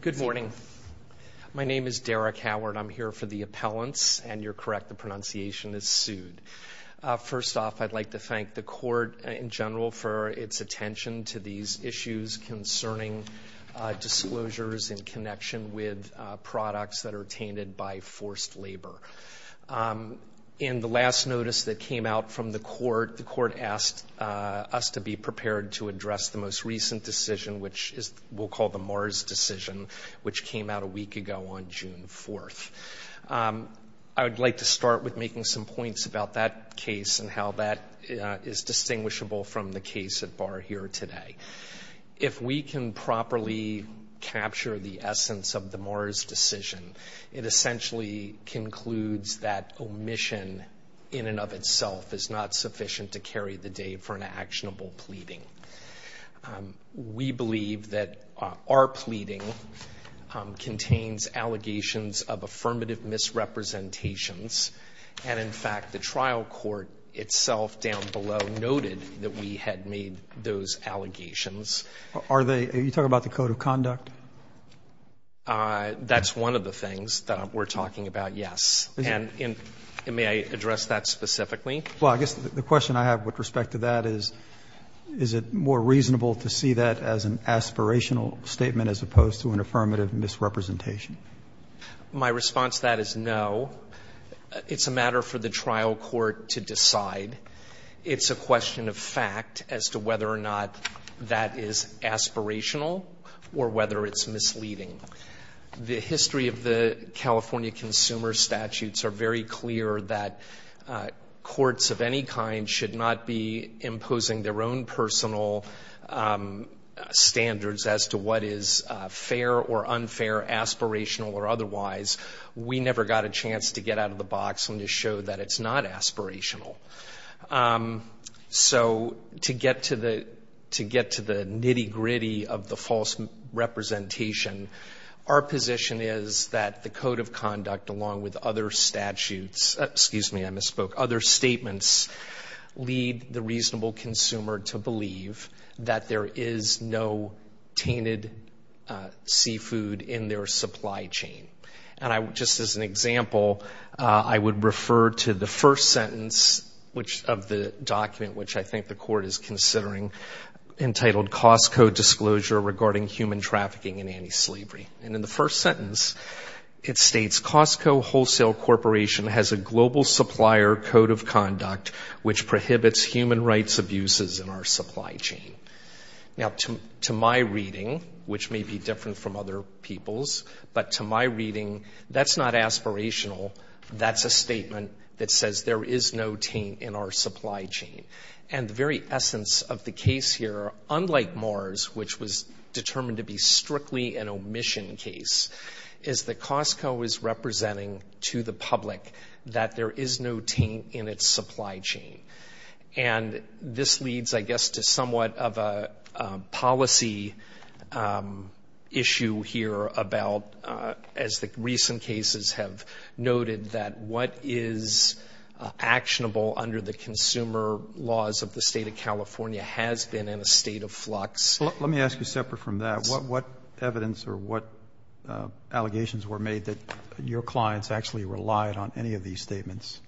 Good morning. My name is Derek Howard. I'm here for the appellants, and you're correct, the pronunciation is Sud. First off, I'd like to thank the court in general for its attention to these issues concerning disclosures in connection with products that are tainted by forced labor. In the last notice that came out from the court, the court asked us to be prepared to address the most recent decision, which we'll call the Mars decision, which came out a week ago on June 4th. I would like to start with making some points about that case and how that is distinguishable from the case at bar here today. If we can properly capture the essence of the Mars decision, it essentially concludes that omission in and of itself is not sufficient to carry the day for an actionable pleading. We believe that our pleading contains allegations of affirmative misrepresentations, and in fact, the trial court itself down below noted that we had made those allegations. Are they – are you talking about the code of conduct? That's one of the things that we're talking about, yes. And may I address that specifically? Well, I guess the question I have with respect to that is, is it more reasonable to see that as an aspirational statement as opposed to an affirmative misrepresentation? My response to that is no. It's a matter for the trial court to decide. It's a question of fact as to whether or not that is aspirational or whether it's misleading. The history of the California consumer statutes are very clear that courts of any kind should not be imposing their own personal standards as to what is fair or unfair, aspirational or otherwise. We never got a chance to get out of the box and to show that it's not aspirational. So to get to the nitty-gritty of the false representation, our position is that the code of conduct along with other statutes – excuse me, I misspoke – other statements lead the just as an example, I would refer to the first sentence of the document which I think the court is considering entitled, Costco Disclosure Regarding Human Trafficking and Anti-Slavery. And in the first sentence, it states, Costco Wholesale Corporation has a global supplier code of conduct which prohibits human rights abuses in our supply chain. Now, to my reading, which may be different from other people's, but to my reading, that's not aspirational. That's a statement that says there is no taint in our supply chain. And the very essence of the case here, unlike Mars, which was determined to be strictly an omission case, is that Costco is representing to the public that there is no taint in its supply chain. And this leads, I guess, to somewhat of a policy issue here about, as the recent cases have noted, that what is actionable under the consumer laws of the state of California has been in a state of flux. Let me ask you separate from that. What evidence or what allegations were made that your clients actually relied on any of these statements?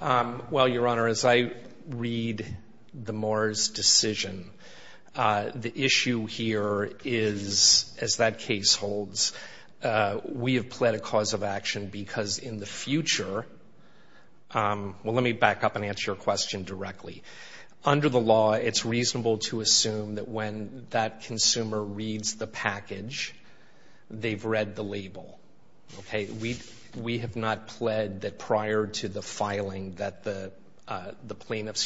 Well, Your Honor, as I read the Mars decision, the issue here is, as that case holds, we have pled a cause of action because in the future, well, let me back up and answer your question directly. Under the law, it's reasonable to assume that when that consumer reads the plaintiffs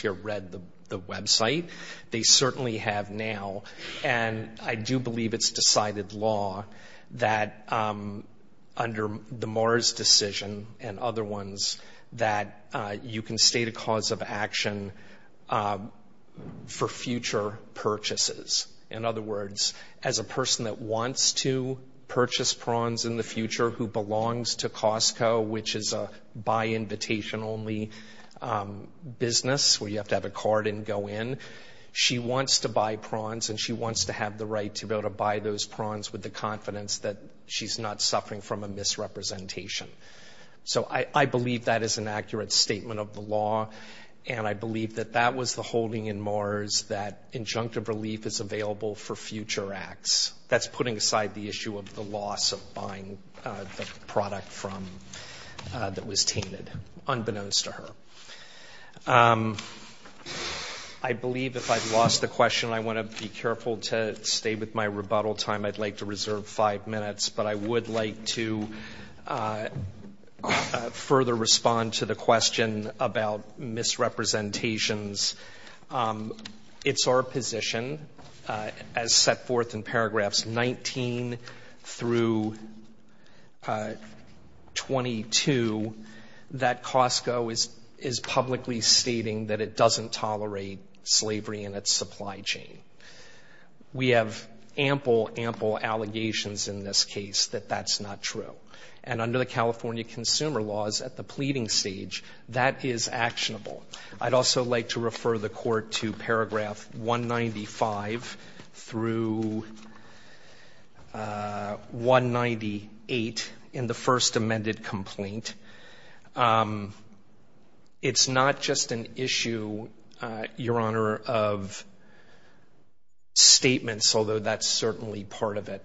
here read the website, they certainly have now. And I do believe it's decided law that under the Mars decision and other ones, that you can state a cause of action for future purchases. In other words, as a person that wants to purchase prawns in the future who buy invitation only business where you have to have a card and go in, she wants to buy prawns and she wants to have the right to be able to buy those prawns with the confidence that she's not suffering from a misrepresentation. So I believe that is an accurate statement of the law. And I believe that that was the holding in Mars that injunctive relief is available for future acts. That's putting aside the issue of the loss of buying the product that was tainted, unbeknownst to her. I believe if I've lost the question, I want to be careful to stay with my rebuttal time. I'd like to reserve five minutes, but I would like to I'd also like to refer the court to paragraph 195 through 198 in the first amended complaint. It's not just an issue, Your Honor, of statements, although that's certainly part of it.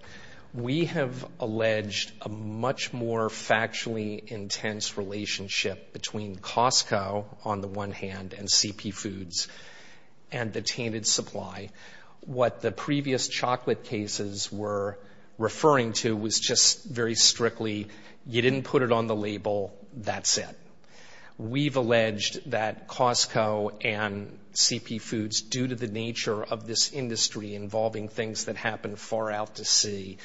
We have alleged a much more factually intense relationship between Costco on the one hand and CP Foods and the tainted supply. What the previous chocolate cases were referring to was just very strictly, you didn't put it on the label, that's it. We've alleged that Costco and CP Foods, due to the nature of this industry involving things that happen far out to sea,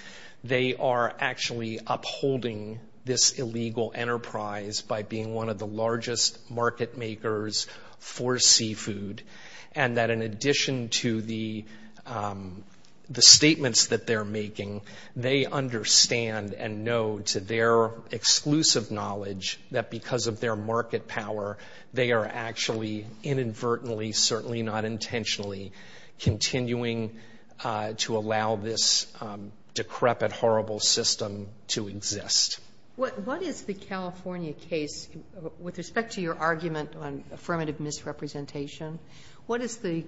they are actually upholding this illegal enterprise by being one of the largest market makers for seafood, and that in addition to the statements that they're making, they understand and know to their exclusive knowledge that because of their market power, they are actually inadvertently, certainly not intentionally, continuing to allow this decrepit, horrible system to exist. What is the California case, with respect to your argument on affirmative misrepresentation, what is the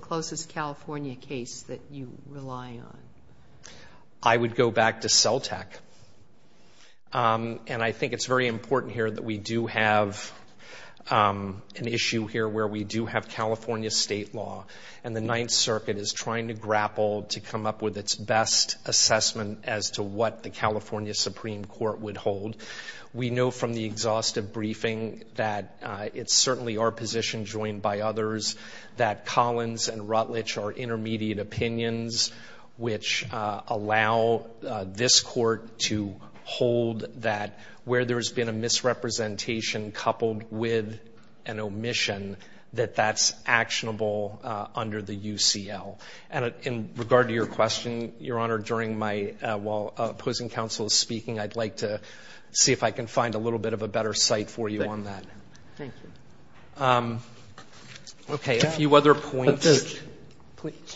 closest California case that you rely on? I would go back to CELTEC, and I think it's very important here that we do have an issue here where we do have California state law, and the Ninth Circuit is trying to grapple to come up with its best assessment as to what the California Supreme Court would hold. We know from the exhaustive briefing that it's certainly our position joined by others that Collins and Rutledge are intermediate opinions, which allow this court to hold that where there's been a misrepresentation coupled with an omission, that that's actionable under the UCL. And in regard to your question, Your Honor, while opposing counsel is speaking, I'd like to see if I can find a little bit of a better site for you on that. Okay, a few other points.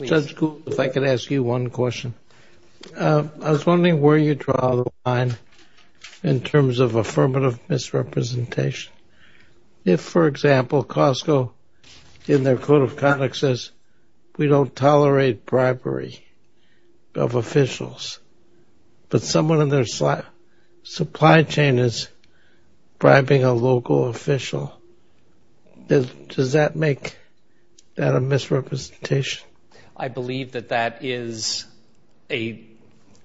Judge Gould, if I could ask you one question. I was wondering where you draw the line in terms of affirmative misrepresentation. If, for example, Costco, in their code of conduct, we don't tolerate bribery of officials, but someone in their supply chain is bribing a local official, does that make that a misrepresentation? I believe that that is a,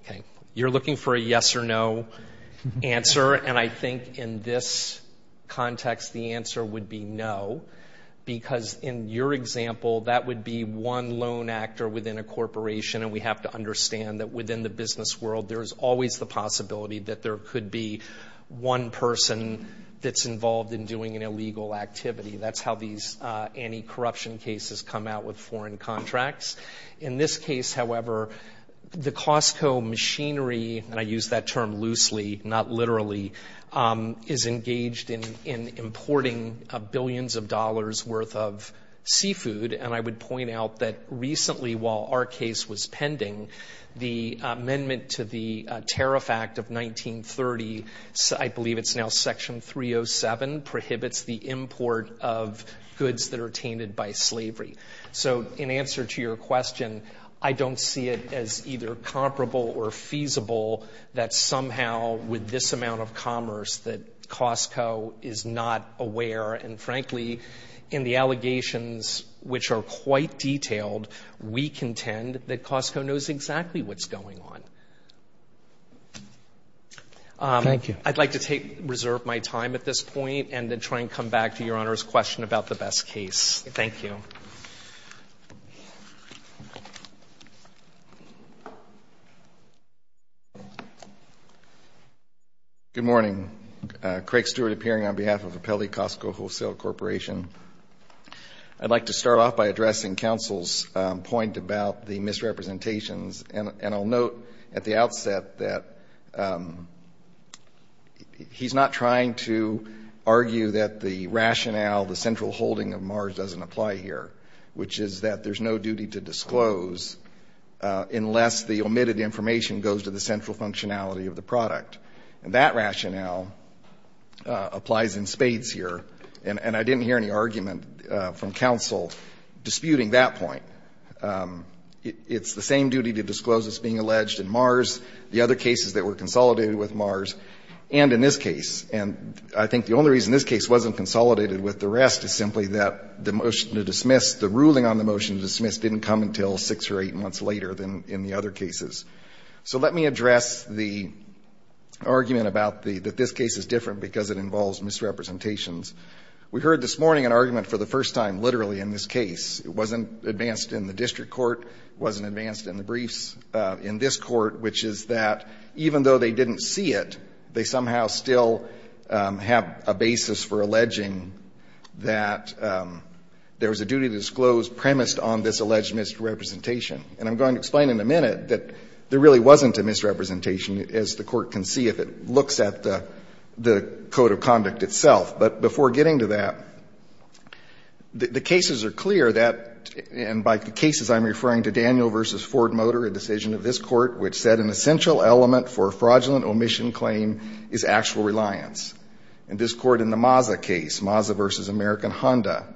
okay, you're looking for a yes or no answer, and I think in this would be one lone actor within a corporation, and we have to understand that within the business world, there's always the possibility that there could be one person that's involved in doing an illegal activity. That's how these anti-corruption cases come out with foreign contracts. In this case, however, the Costco machinery, and I use that term loosely, not literally, is engaged in importing billions of dollars' worth of seafood, and I would point out that recently, while our case was pending, the amendment to the Tariff Act of 1930, I believe it's now Section 307, prohibits the import of goods that are tainted by slavery. So in answer to your question, I don't see it as either comparable or feasible that somehow with this amount of commerce that Costco is not aware, and frankly, in the allegations which are quite detailed, we contend that Costco knows exactly what's going on. Thank you. I'd like to take, reserve my time at this point, and then try and come back to Your Honor's question about the best case. Thank you. Good morning. Craig Stewart appearing on behalf of the Pelley Costco Wholesale Corporation. I'd like to start off by addressing counsel's point about the misrepresentations, and I'll note at the outset that he's not trying to argue that the rationale, the central holding of MARS doesn't apply here, which is that there's no duty to disclose unless the omitted information goes to the central functionality of the product. And that rationale applies in spades here, and I didn't hear any argument from counsel disputing that point. It's the same duty to disclose as being alleged in MARS, the other cases that were consolidated with MARS, and in this case. And I think the only reason this case wasn't consolidated with the rest is simply that the motion to dismiss, the ruling on the motion to dismiss didn't come until 6 or 8 months later than in the other cases. So let me address the argument about the, that this case is different because it involves misrepresentations. We heard this morning an argument for the first time literally in this case. It wasn't advanced in the district court. It wasn't advanced in the briefs in this court, which is that even though they didn't see it, they somehow still have a basis for alleging that there was a duty to disclose premised on this alleged misrepresentation. And I'm going to explain in a minute that there really wasn't a misrepresentation as the court can see if it looks at the, the code of conduct itself. But before getting to that, the cases are clear that, and by the cases I'm referring to Daniel versus Ford Motor, a decision of this court, which said an essential element for a fraudulent omission claim is actual reliance. And this court in the Mazda case, Mazda versus American Honda,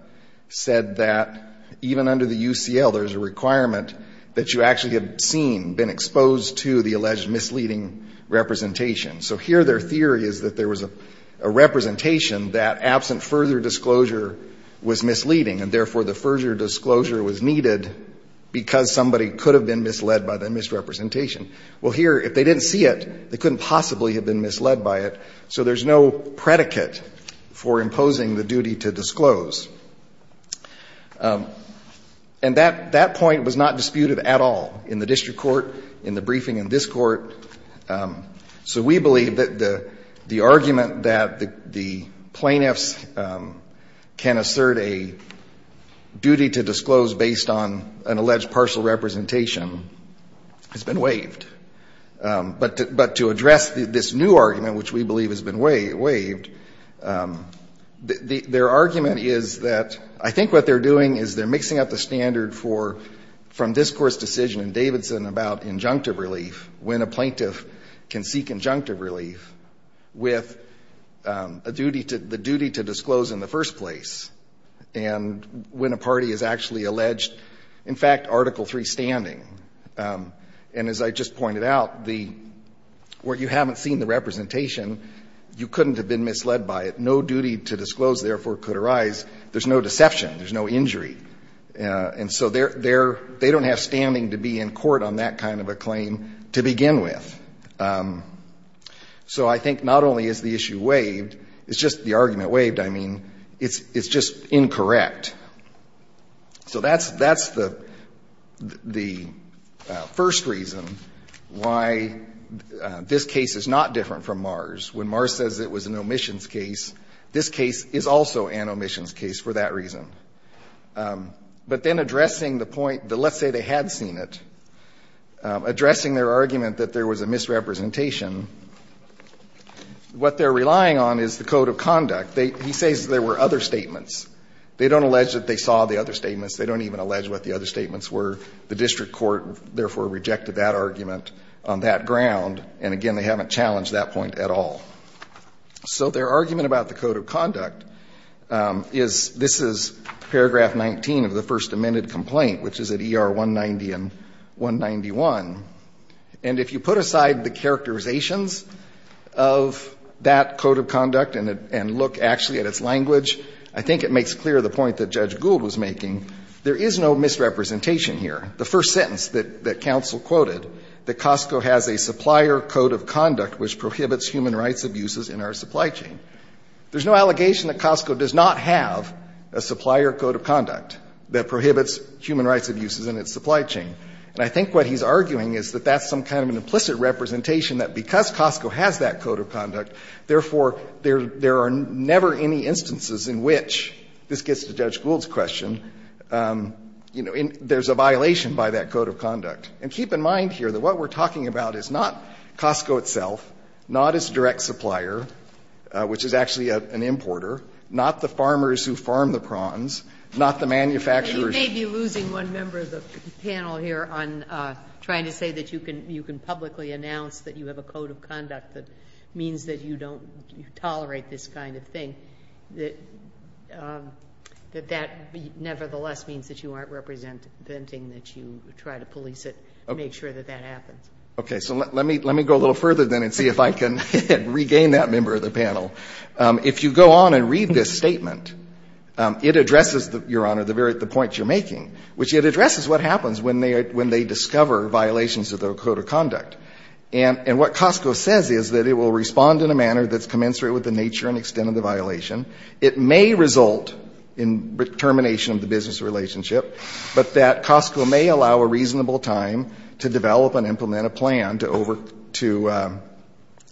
said that even under the UCL, there's a requirement that you actually have seen, been exposed to the alleged misleading representation. So here their theory is that there was a representation that absent further disclosure was misleading and therefore the further disclosure was needed because somebody could have been misled by the misrepresentation. Well here, if they didn't see it, they couldn't possibly have been misled by it. So there's no predicate for imposing the duty to disclose. And that, that point was not disputed at all in the district court, in the briefing in this court. So we believe that the, the argument that the, the plaintiffs can assert a duty to disclose based on an alleged partial representation has been waived. But, but to the extent that it's been waived, the, their argument is that I think what they're doing is they're mixing up the standard for, from this Court's decision in Davidson about injunctive relief, when a plaintiff can seek injunctive relief with a duty to, the duty to disclose in the first place, and when a party is actually alleged, in fact, Article III standing. And as I just pointed out, the, where you haven't seen the representation, you couldn't have been misled by it. No duty to disclose, therefore, could arise. There's no deception. There's no injury. And so they're, they're, they don't have standing to be in court on that kind of a claim to begin with. So I think not only is the issue waived, it's just, the argument waived, I mean, it's, it's just incorrect. So that's, that's the, the first reason why this case is not, is not, is not, is not different from Mars. When Mars says it was an omissions case, this case is also an omissions case for that reason. But then addressing the point that let's say they had seen it, addressing their argument that there was a misrepresentation, what they're relying on is the code of conduct. They, he says there were other statements. They don't allege that they saw the other statements. They don't even allege what the other statements were. The district court, therefore, rejected that argument on that ground. And again, they haven't challenged that point at all. So their argument about the code of conduct is, this is paragraph 19 of the first amended complaint, which is at ER 190 and 191. And if you put aside the characterizations of that code of conduct and it, and look actually at its language, I think it makes clear the point that Judge Gould was making. There is no misrepresentation here. The first sentence that counsel quoted, that Costco has a supplier code of conduct which prohibits human rights abuses in our supply chain. There's no allegation that Costco does not have a supplier code of conduct that prohibits human rights abuses in its supply chain. And I think what he's arguing is that that's some kind of an implicit representation that because Costco has that code of conduct, therefore, there are never any instances in which, this gets to Judge Gould's question, you know, there's a violation by that code of conduct. And keep in mind here that what we're talking about is not Costco itself, not its direct supplier, which is actually an importer, not the farmers who farm the prawns, not the manufacturers. You may be losing one member of the panel here on trying to say that you can publicly announce that you have a code of conduct that means that you don't tolerate this kind of thing, that that nevertheless means that you aren't representing, that you try to police it, make sure that that happens. Okay. So let me go a little further, then, and see if I can regain that member of the panel. If you go on and read this statement, it addresses, Your Honor, the points you're making, which it addresses what happens when they discover violations of the code of conduct. And what Costco says is that it will respond in a manner that's commensurate with the nature and extent of the violation. It may result in termination of the business relationship, but that Costco may allow a reasonable time to develop and implement a plan to over, to,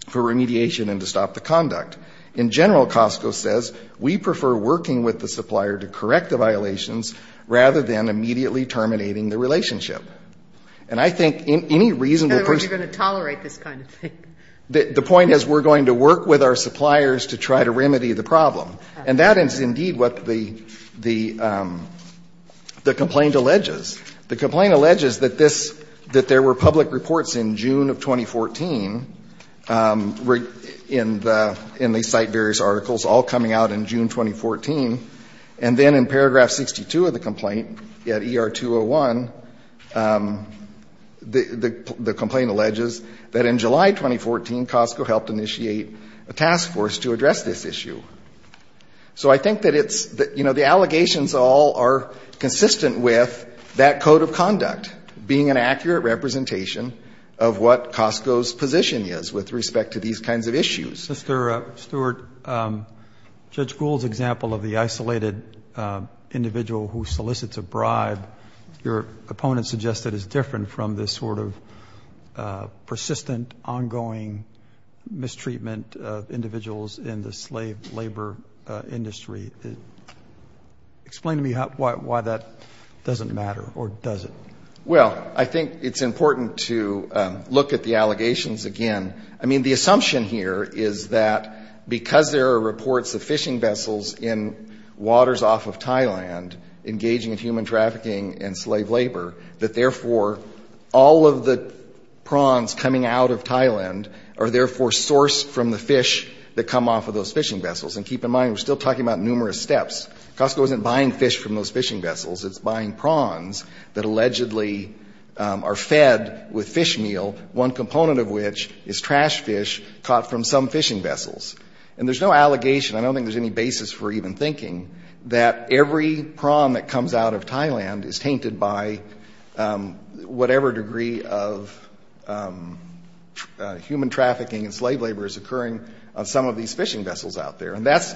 for remediation and to stop the conduct. In general, Costco says, We prefer working with the supplier to correct the violations rather than immediately terminating the relationship. And I think any reasonable person... In other words, you're going to tolerate this kind of thing. The point is, we're going to work with our suppliers to try to remedy the problem. And that is indeed what the, the complaint alleges. The complaint alleges that this, that there were public reports in June of 2014 in the, in the site, various articles, all coming out in June 2014. And then in paragraph 62 of the complaint, at ER 201, the complaint alleges that in July 2014, Costco helped initiate a task force to address this issue. So I think that it's, you know, the allegations all are consistent with that code of conduct being an accurate representation of what Costco's position is with respect to these kinds of issues. Mr. Stewart, Judge Gould's example of the isolated individual who solicits a bribe, your opponent suggested is different from this sort of persistent, ongoing mistreatment of individuals in the slave labor industry. Explain to me how, why, why that doesn't matter, or does it? Well, I think it's important to look at the allegations again. I mean, the assumption here is that because there are reports of fishing vessels in waters off of Thailand engaging in human trafficking and slave labor, that therefore all of the prawns coming out of Thailand are therefore sourced from the fish that come off of those fishing vessels. And keep in mind, we're still talking about numerous steps. Costco isn't buying fish from those fishing vessels. It's buying prawns that allegedly are fed with fish meal, one component of which is trash fish caught from some fishing vessels. And there's no allegation. I don't think there's any basis for even thinking that every prawn that comes out of Thailand is tainted by whatever degree of human trafficking and slave labor is occurring on some of these fishing vessels out there. And that's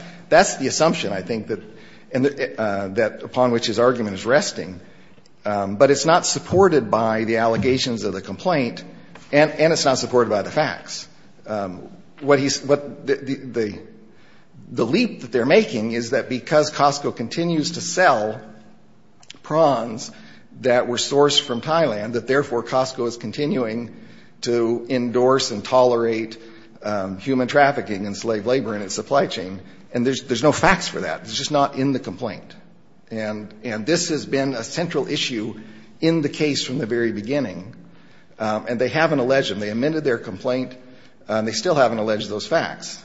the assumption, I think, that upon which his argument is resting. But it's not supported by the allegations of the complaint, and it's not supported by the facts. The leap that they're making is that because Costco continues to sell prawns that were sourced from Thailand, that therefore Costco is continuing to endorse and tolerate human trafficking and slave labor in its supply chain. And there's no facts for that. It's just not in the complaint. And this has been a central issue in the case from the very beginning. And they haven't alleged them. They amended their complaint, and they still haven't alleged those facts.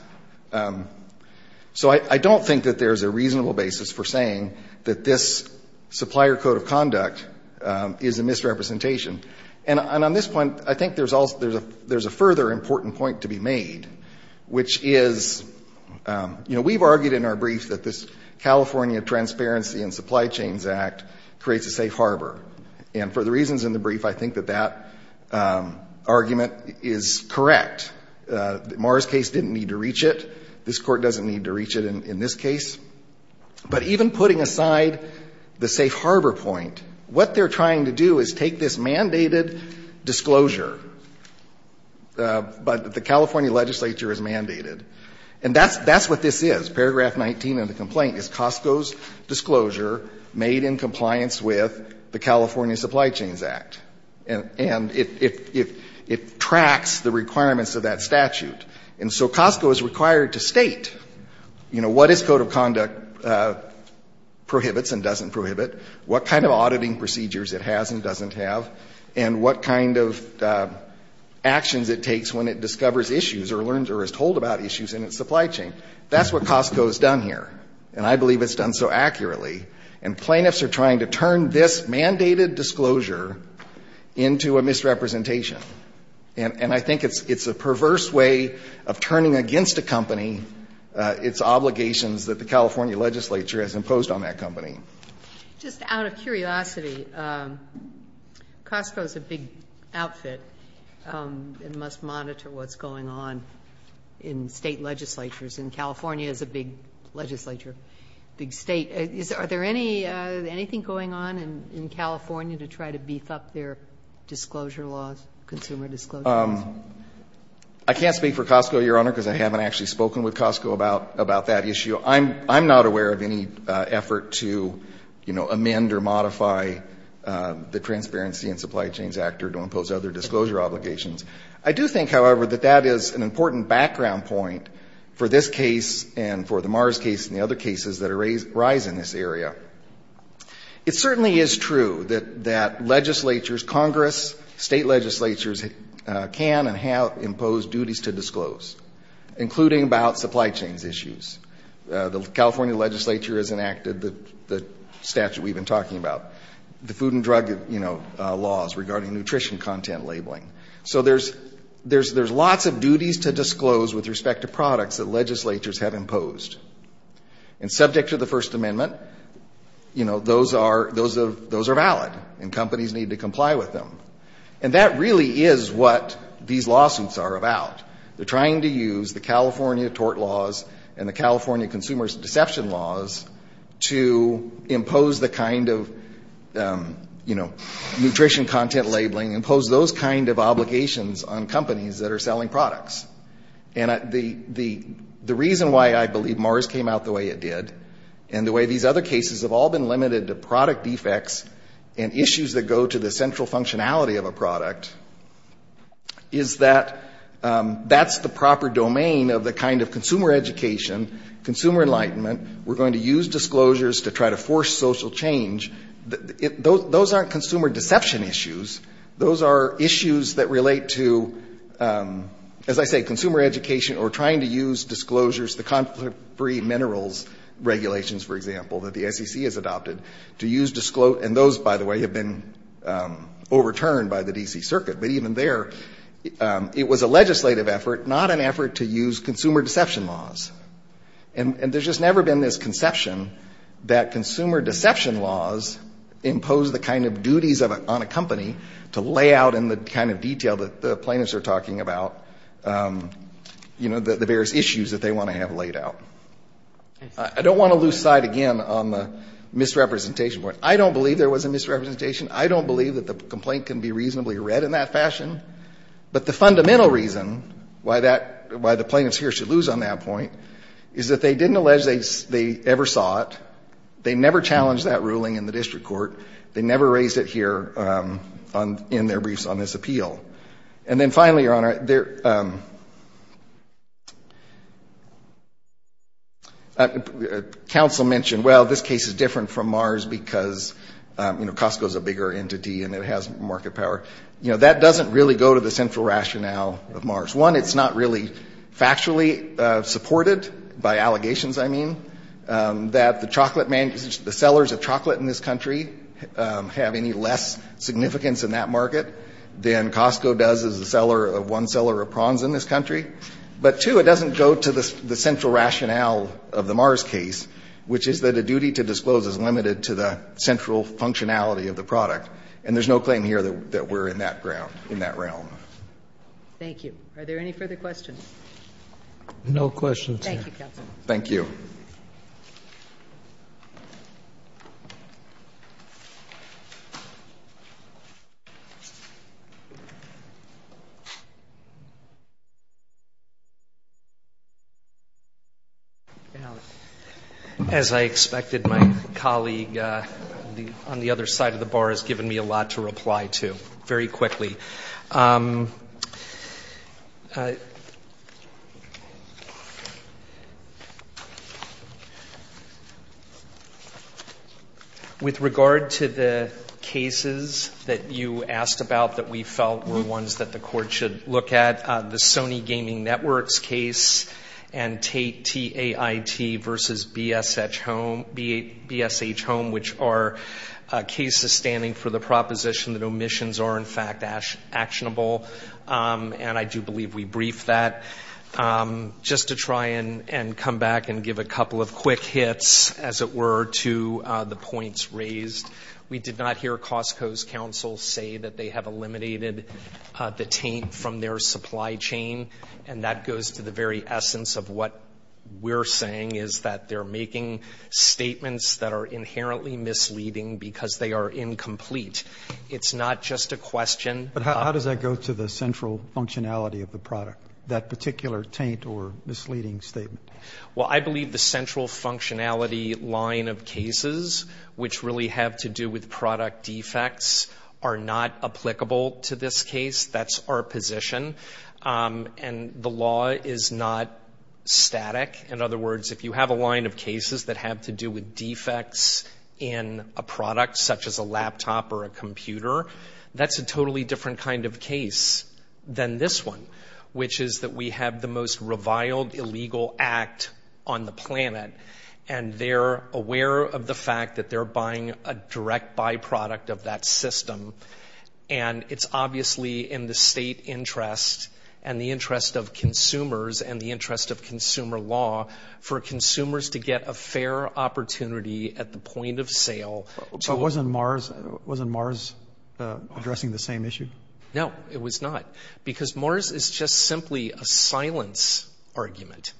So I don't think that there's a reasonable basis for saying that this supplier code of conduct is a misrepresentation. And on this point, I think there's a further important point to be made, which is, we've argued in our brief that this California Transparency and Supply Chains Act creates a safe harbor. And for the reasons in the brief, I think that that argument is correct. Marra's case didn't need to reach it. This Court doesn't need to reach it in this case. But even putting aside the safe harbor point, what they're trying to do is take this mandated disclosure, but the California legislature has mandated. And that's what this is. Paragraph 19 of the complaint is Costco's disclosure made in compliance with the California Supply Chains Act, and it tracks the requirements of that statute. And so Costco is required to state what its code of conduct prohibits and doesn't prohibit, what kind of auditing procedures it has and doesn't have, and what kind of actions it takes when it discovers issues or learns or is told about issues in its supply chain. That's what Costco's done here, and I believe it's done so accurately. And plaintiffs are trying to turn this mandated disclosure into a misrepresentation. And I think it's a perverse way of turning against a company its obligations that the California legislature has imposed on that company. Just out of curiosity, Costco is a big outfit and must monitor what's going on in State legislatures, and California is a big legislature, big State. Are there anything going on in California to try to beef up their disclosure laws, consumer disclosures? I can't speak for Costco, Your Honor, because I haven't actually spoken with Costco about that issue. I'm not aware of any effort to, you know, amend or modify the Transparency and Supply Chains Act or to impose other disclosure obligations. I do think, however, that that is an important background point for this case and for the Mars case and the other cases that arise in this area. It certainly is true that legislatures, Congress, State legislatures, can and have imposed duties to disclose, including about supply chain issues. The California legislature has enacted the statute we've been talking about, the food and drug, you know, laws regarding nutrition content labeling. So there's lots of duties to disclose with respect to products that legislatures have imposed. And subject to the First Amendment, you know, those are valid and companies need to comply with them. And that really is what these lawsuits are about. They're trying to use the California tort laws and the California consumer deception laws to impose the kind of, you know, nutrition content labeling, impose those kind of obligations on companies that are selling products. And the reason why I believe Mars came out the way it did and the way these other cases have all been limited to product defects and issues that go to the central functionality of a product is that that's the proper domain of the kind of consumer education, consumer enlightenment. We're going to use disclosures to try to force social change. Those aren't consumer deception issues. Those are issues that relate to, as I say, consumer education or trying to use disclosures, the conflict-free minerals regulations, for example, that the SEC has adopted to use disclose. And those, by the way, have been overturned by the D.C. Circuit. But even there, it was a legislative effort, not an effort to use consumer deception laws. And there's just never been this conception that consumer deception laws impose the kind of duties on a company to lay out in the kind of detail that the plaintiffs are talking about, you know, the various issues that they want to have laid out. I don't want to lose sight again on the misrepresentation point. I don't believe there was a misrepresentation. I don't believe that the complaint can be reasonably read in that fashion. But the fundamental reason why that — why the plaintiffs here should lose on that point is that they didn't allege they ever saw it. They never challenged that ruling in the district court. They never raised it here in their briefs on this appeal. And then finally, Your Honor, there — counsel mentioned, well, this case is different from Mars because, you know, Costco is a bigger entity and it has market power. You know, that doesn't really go to the central rationale of Mars. One, it's not really factually supported, by allegations I mean, that the chocolate — the sellers of chocolate in this country have any less significance in that market than Costco does as a seller of one seller of prawns in this country. But, two, it doesn't go to the central rationale of the Mars case, which is that a duty to disclose is limited to the central functionality of the product. And there's no claim here that we're in that ground — in that realm. Thank you. Are there any further questions? No questions, Your Honor. Thank you, counsel. Thank you. Thank you. As I expected, my colleague on the other side of the bar has given me a lot to reply to very quickly. With regard to the cases that you asked about that we felt were ones that the Court should look at, the Sony Gaming Networks case and Tait versus BSH Home, which are cases standing for the proposition that omissions are, in fact, actionable, and I do believe we briefed that. Just to try and come back and give a couple of quick hits, as it were, to the points raised, we did not hear Costco's counsel say that they have eliminated the Tait from their supply chain. And that goes to the very essence of what we're saying, is that they're making statements that are inherently misleading because they are incomplete. It's not just a question —— of the central functionality of the product, that particular Tait or misleading statement. Well, I believe the central functionality line of cases, which really have to do with product defects, are not applicable to this case. That's our position. And the law is not static. In other words, if you have a line of cases that have to do with defects in a product, such as a laptop or a computer, that's a totally different kind of case than this one, which is that we have the most reviled illegal act on the planet, and they're aware of the fact that they're buying a direct byproduct of that system. And it's obviously in the state interest and the interest of consumers and the interest of consumer law for consumers to get a fair opportunity at the point of sale — But wasn't Mars addressing the same issue? No, it was not, because Mars is just simply a silence argument.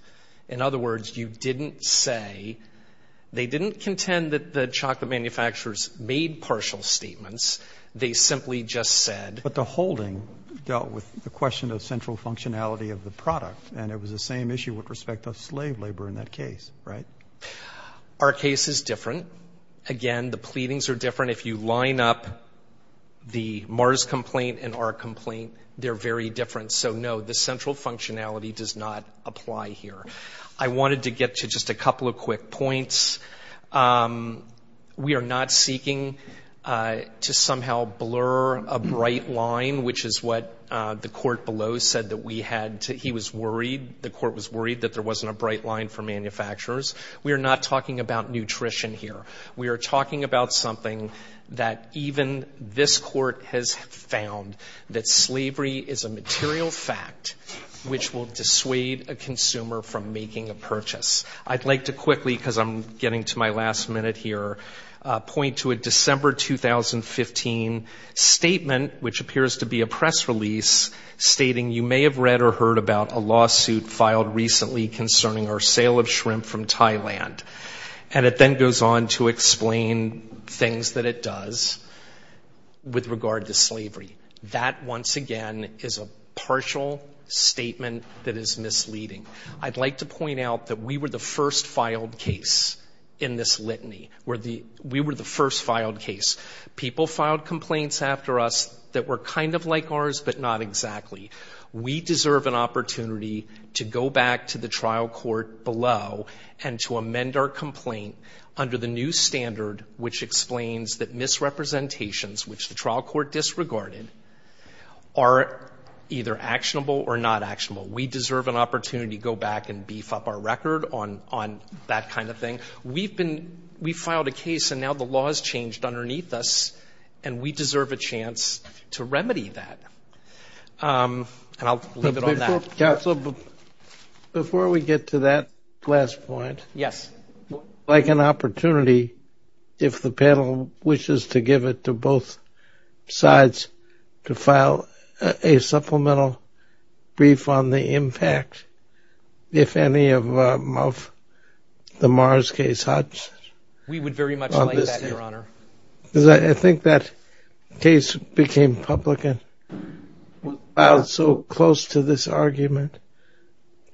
In other words, you didn't say — they didn't contend that the chocolate manufacturers made partial statements. They simply just said — But the holding dealt with the question of central functionality of the product, and it was the same issue with respect to slave labor in that case, right? Our case is different. Again, the pleadings are different. If you line up the Mars complaint and our complaint, they're very different. So, no, the central functionality does not apply here. I wanted to get to just a couple of quick points. We are not seeking to somehow blur a bright line, which is what the court below said that we had to — he was worried, the court was worried, that there wasn't a bright line for manufacturers. We are not talking about nutrition here. We are talking about something that even this court has found, that slavery is a material fact which will dissuade a consumer from making a purchase. I'd like to quickly, because I'm getting to my last minute here, point to a December 2015 statement, which appears to be a press release, stating, you may have read or heard about a lawsuit filed recently concerning our sale of shrimp from Thailand. And it then goes on to explain things that it does with regard to slavery. That, once again, is a partial statement that is misleading. I'd like to point out that we were the first filed case in this litany. We were the first filed case. People filed complaints after us that were kind of like ours, but not exactly. We deserve an opportunity to go back to the trial court below and to amend our complaint under the new standard which explains that misrepresentations, which the trial court disregarded, are either actionable or not actionable. We deserve an opportunity to go back and beef up our record on that kind of thing. We filed a case and now the law has changed underneath us, and we deserve a chance to remedy that. And I'll leave it on that. Before we get to that last point. Yes. I'd like an opportunity, if the panel wishes to give it to both sides, to file a supplemental brief on the impact, if any, of the Mars case. We would very much like that, Your Honor. Because I think that case became public and filed so close to this argument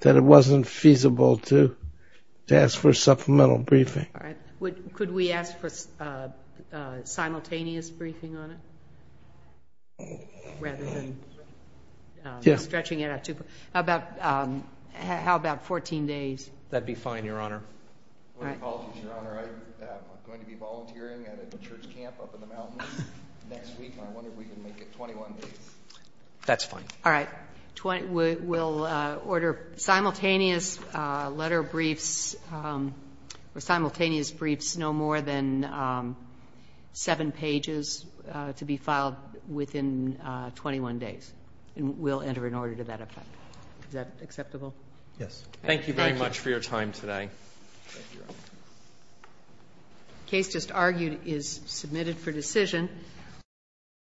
that it wasn't feasible to ask for a supplemental briefing. All right. Could we ask for simultaneous briefing on it? Rather than stretching it out too far. How about 14 days? That would be fine, Your Honor. My apologies, Your Honor. I'm going to be volunteering at a church camp up in the mountains next week, and I wonder if we can make it 21 days. That's fine. All right. We'll order simultaneous letter briefs or simultaneous briefs, no more than seven pages, to be filed within 21 days. And we'll enter an order to that effect. Is that acceptable? Yes. Thank you very much for your time today. Thank you, Your Honor. The case just argued is submitted for decision.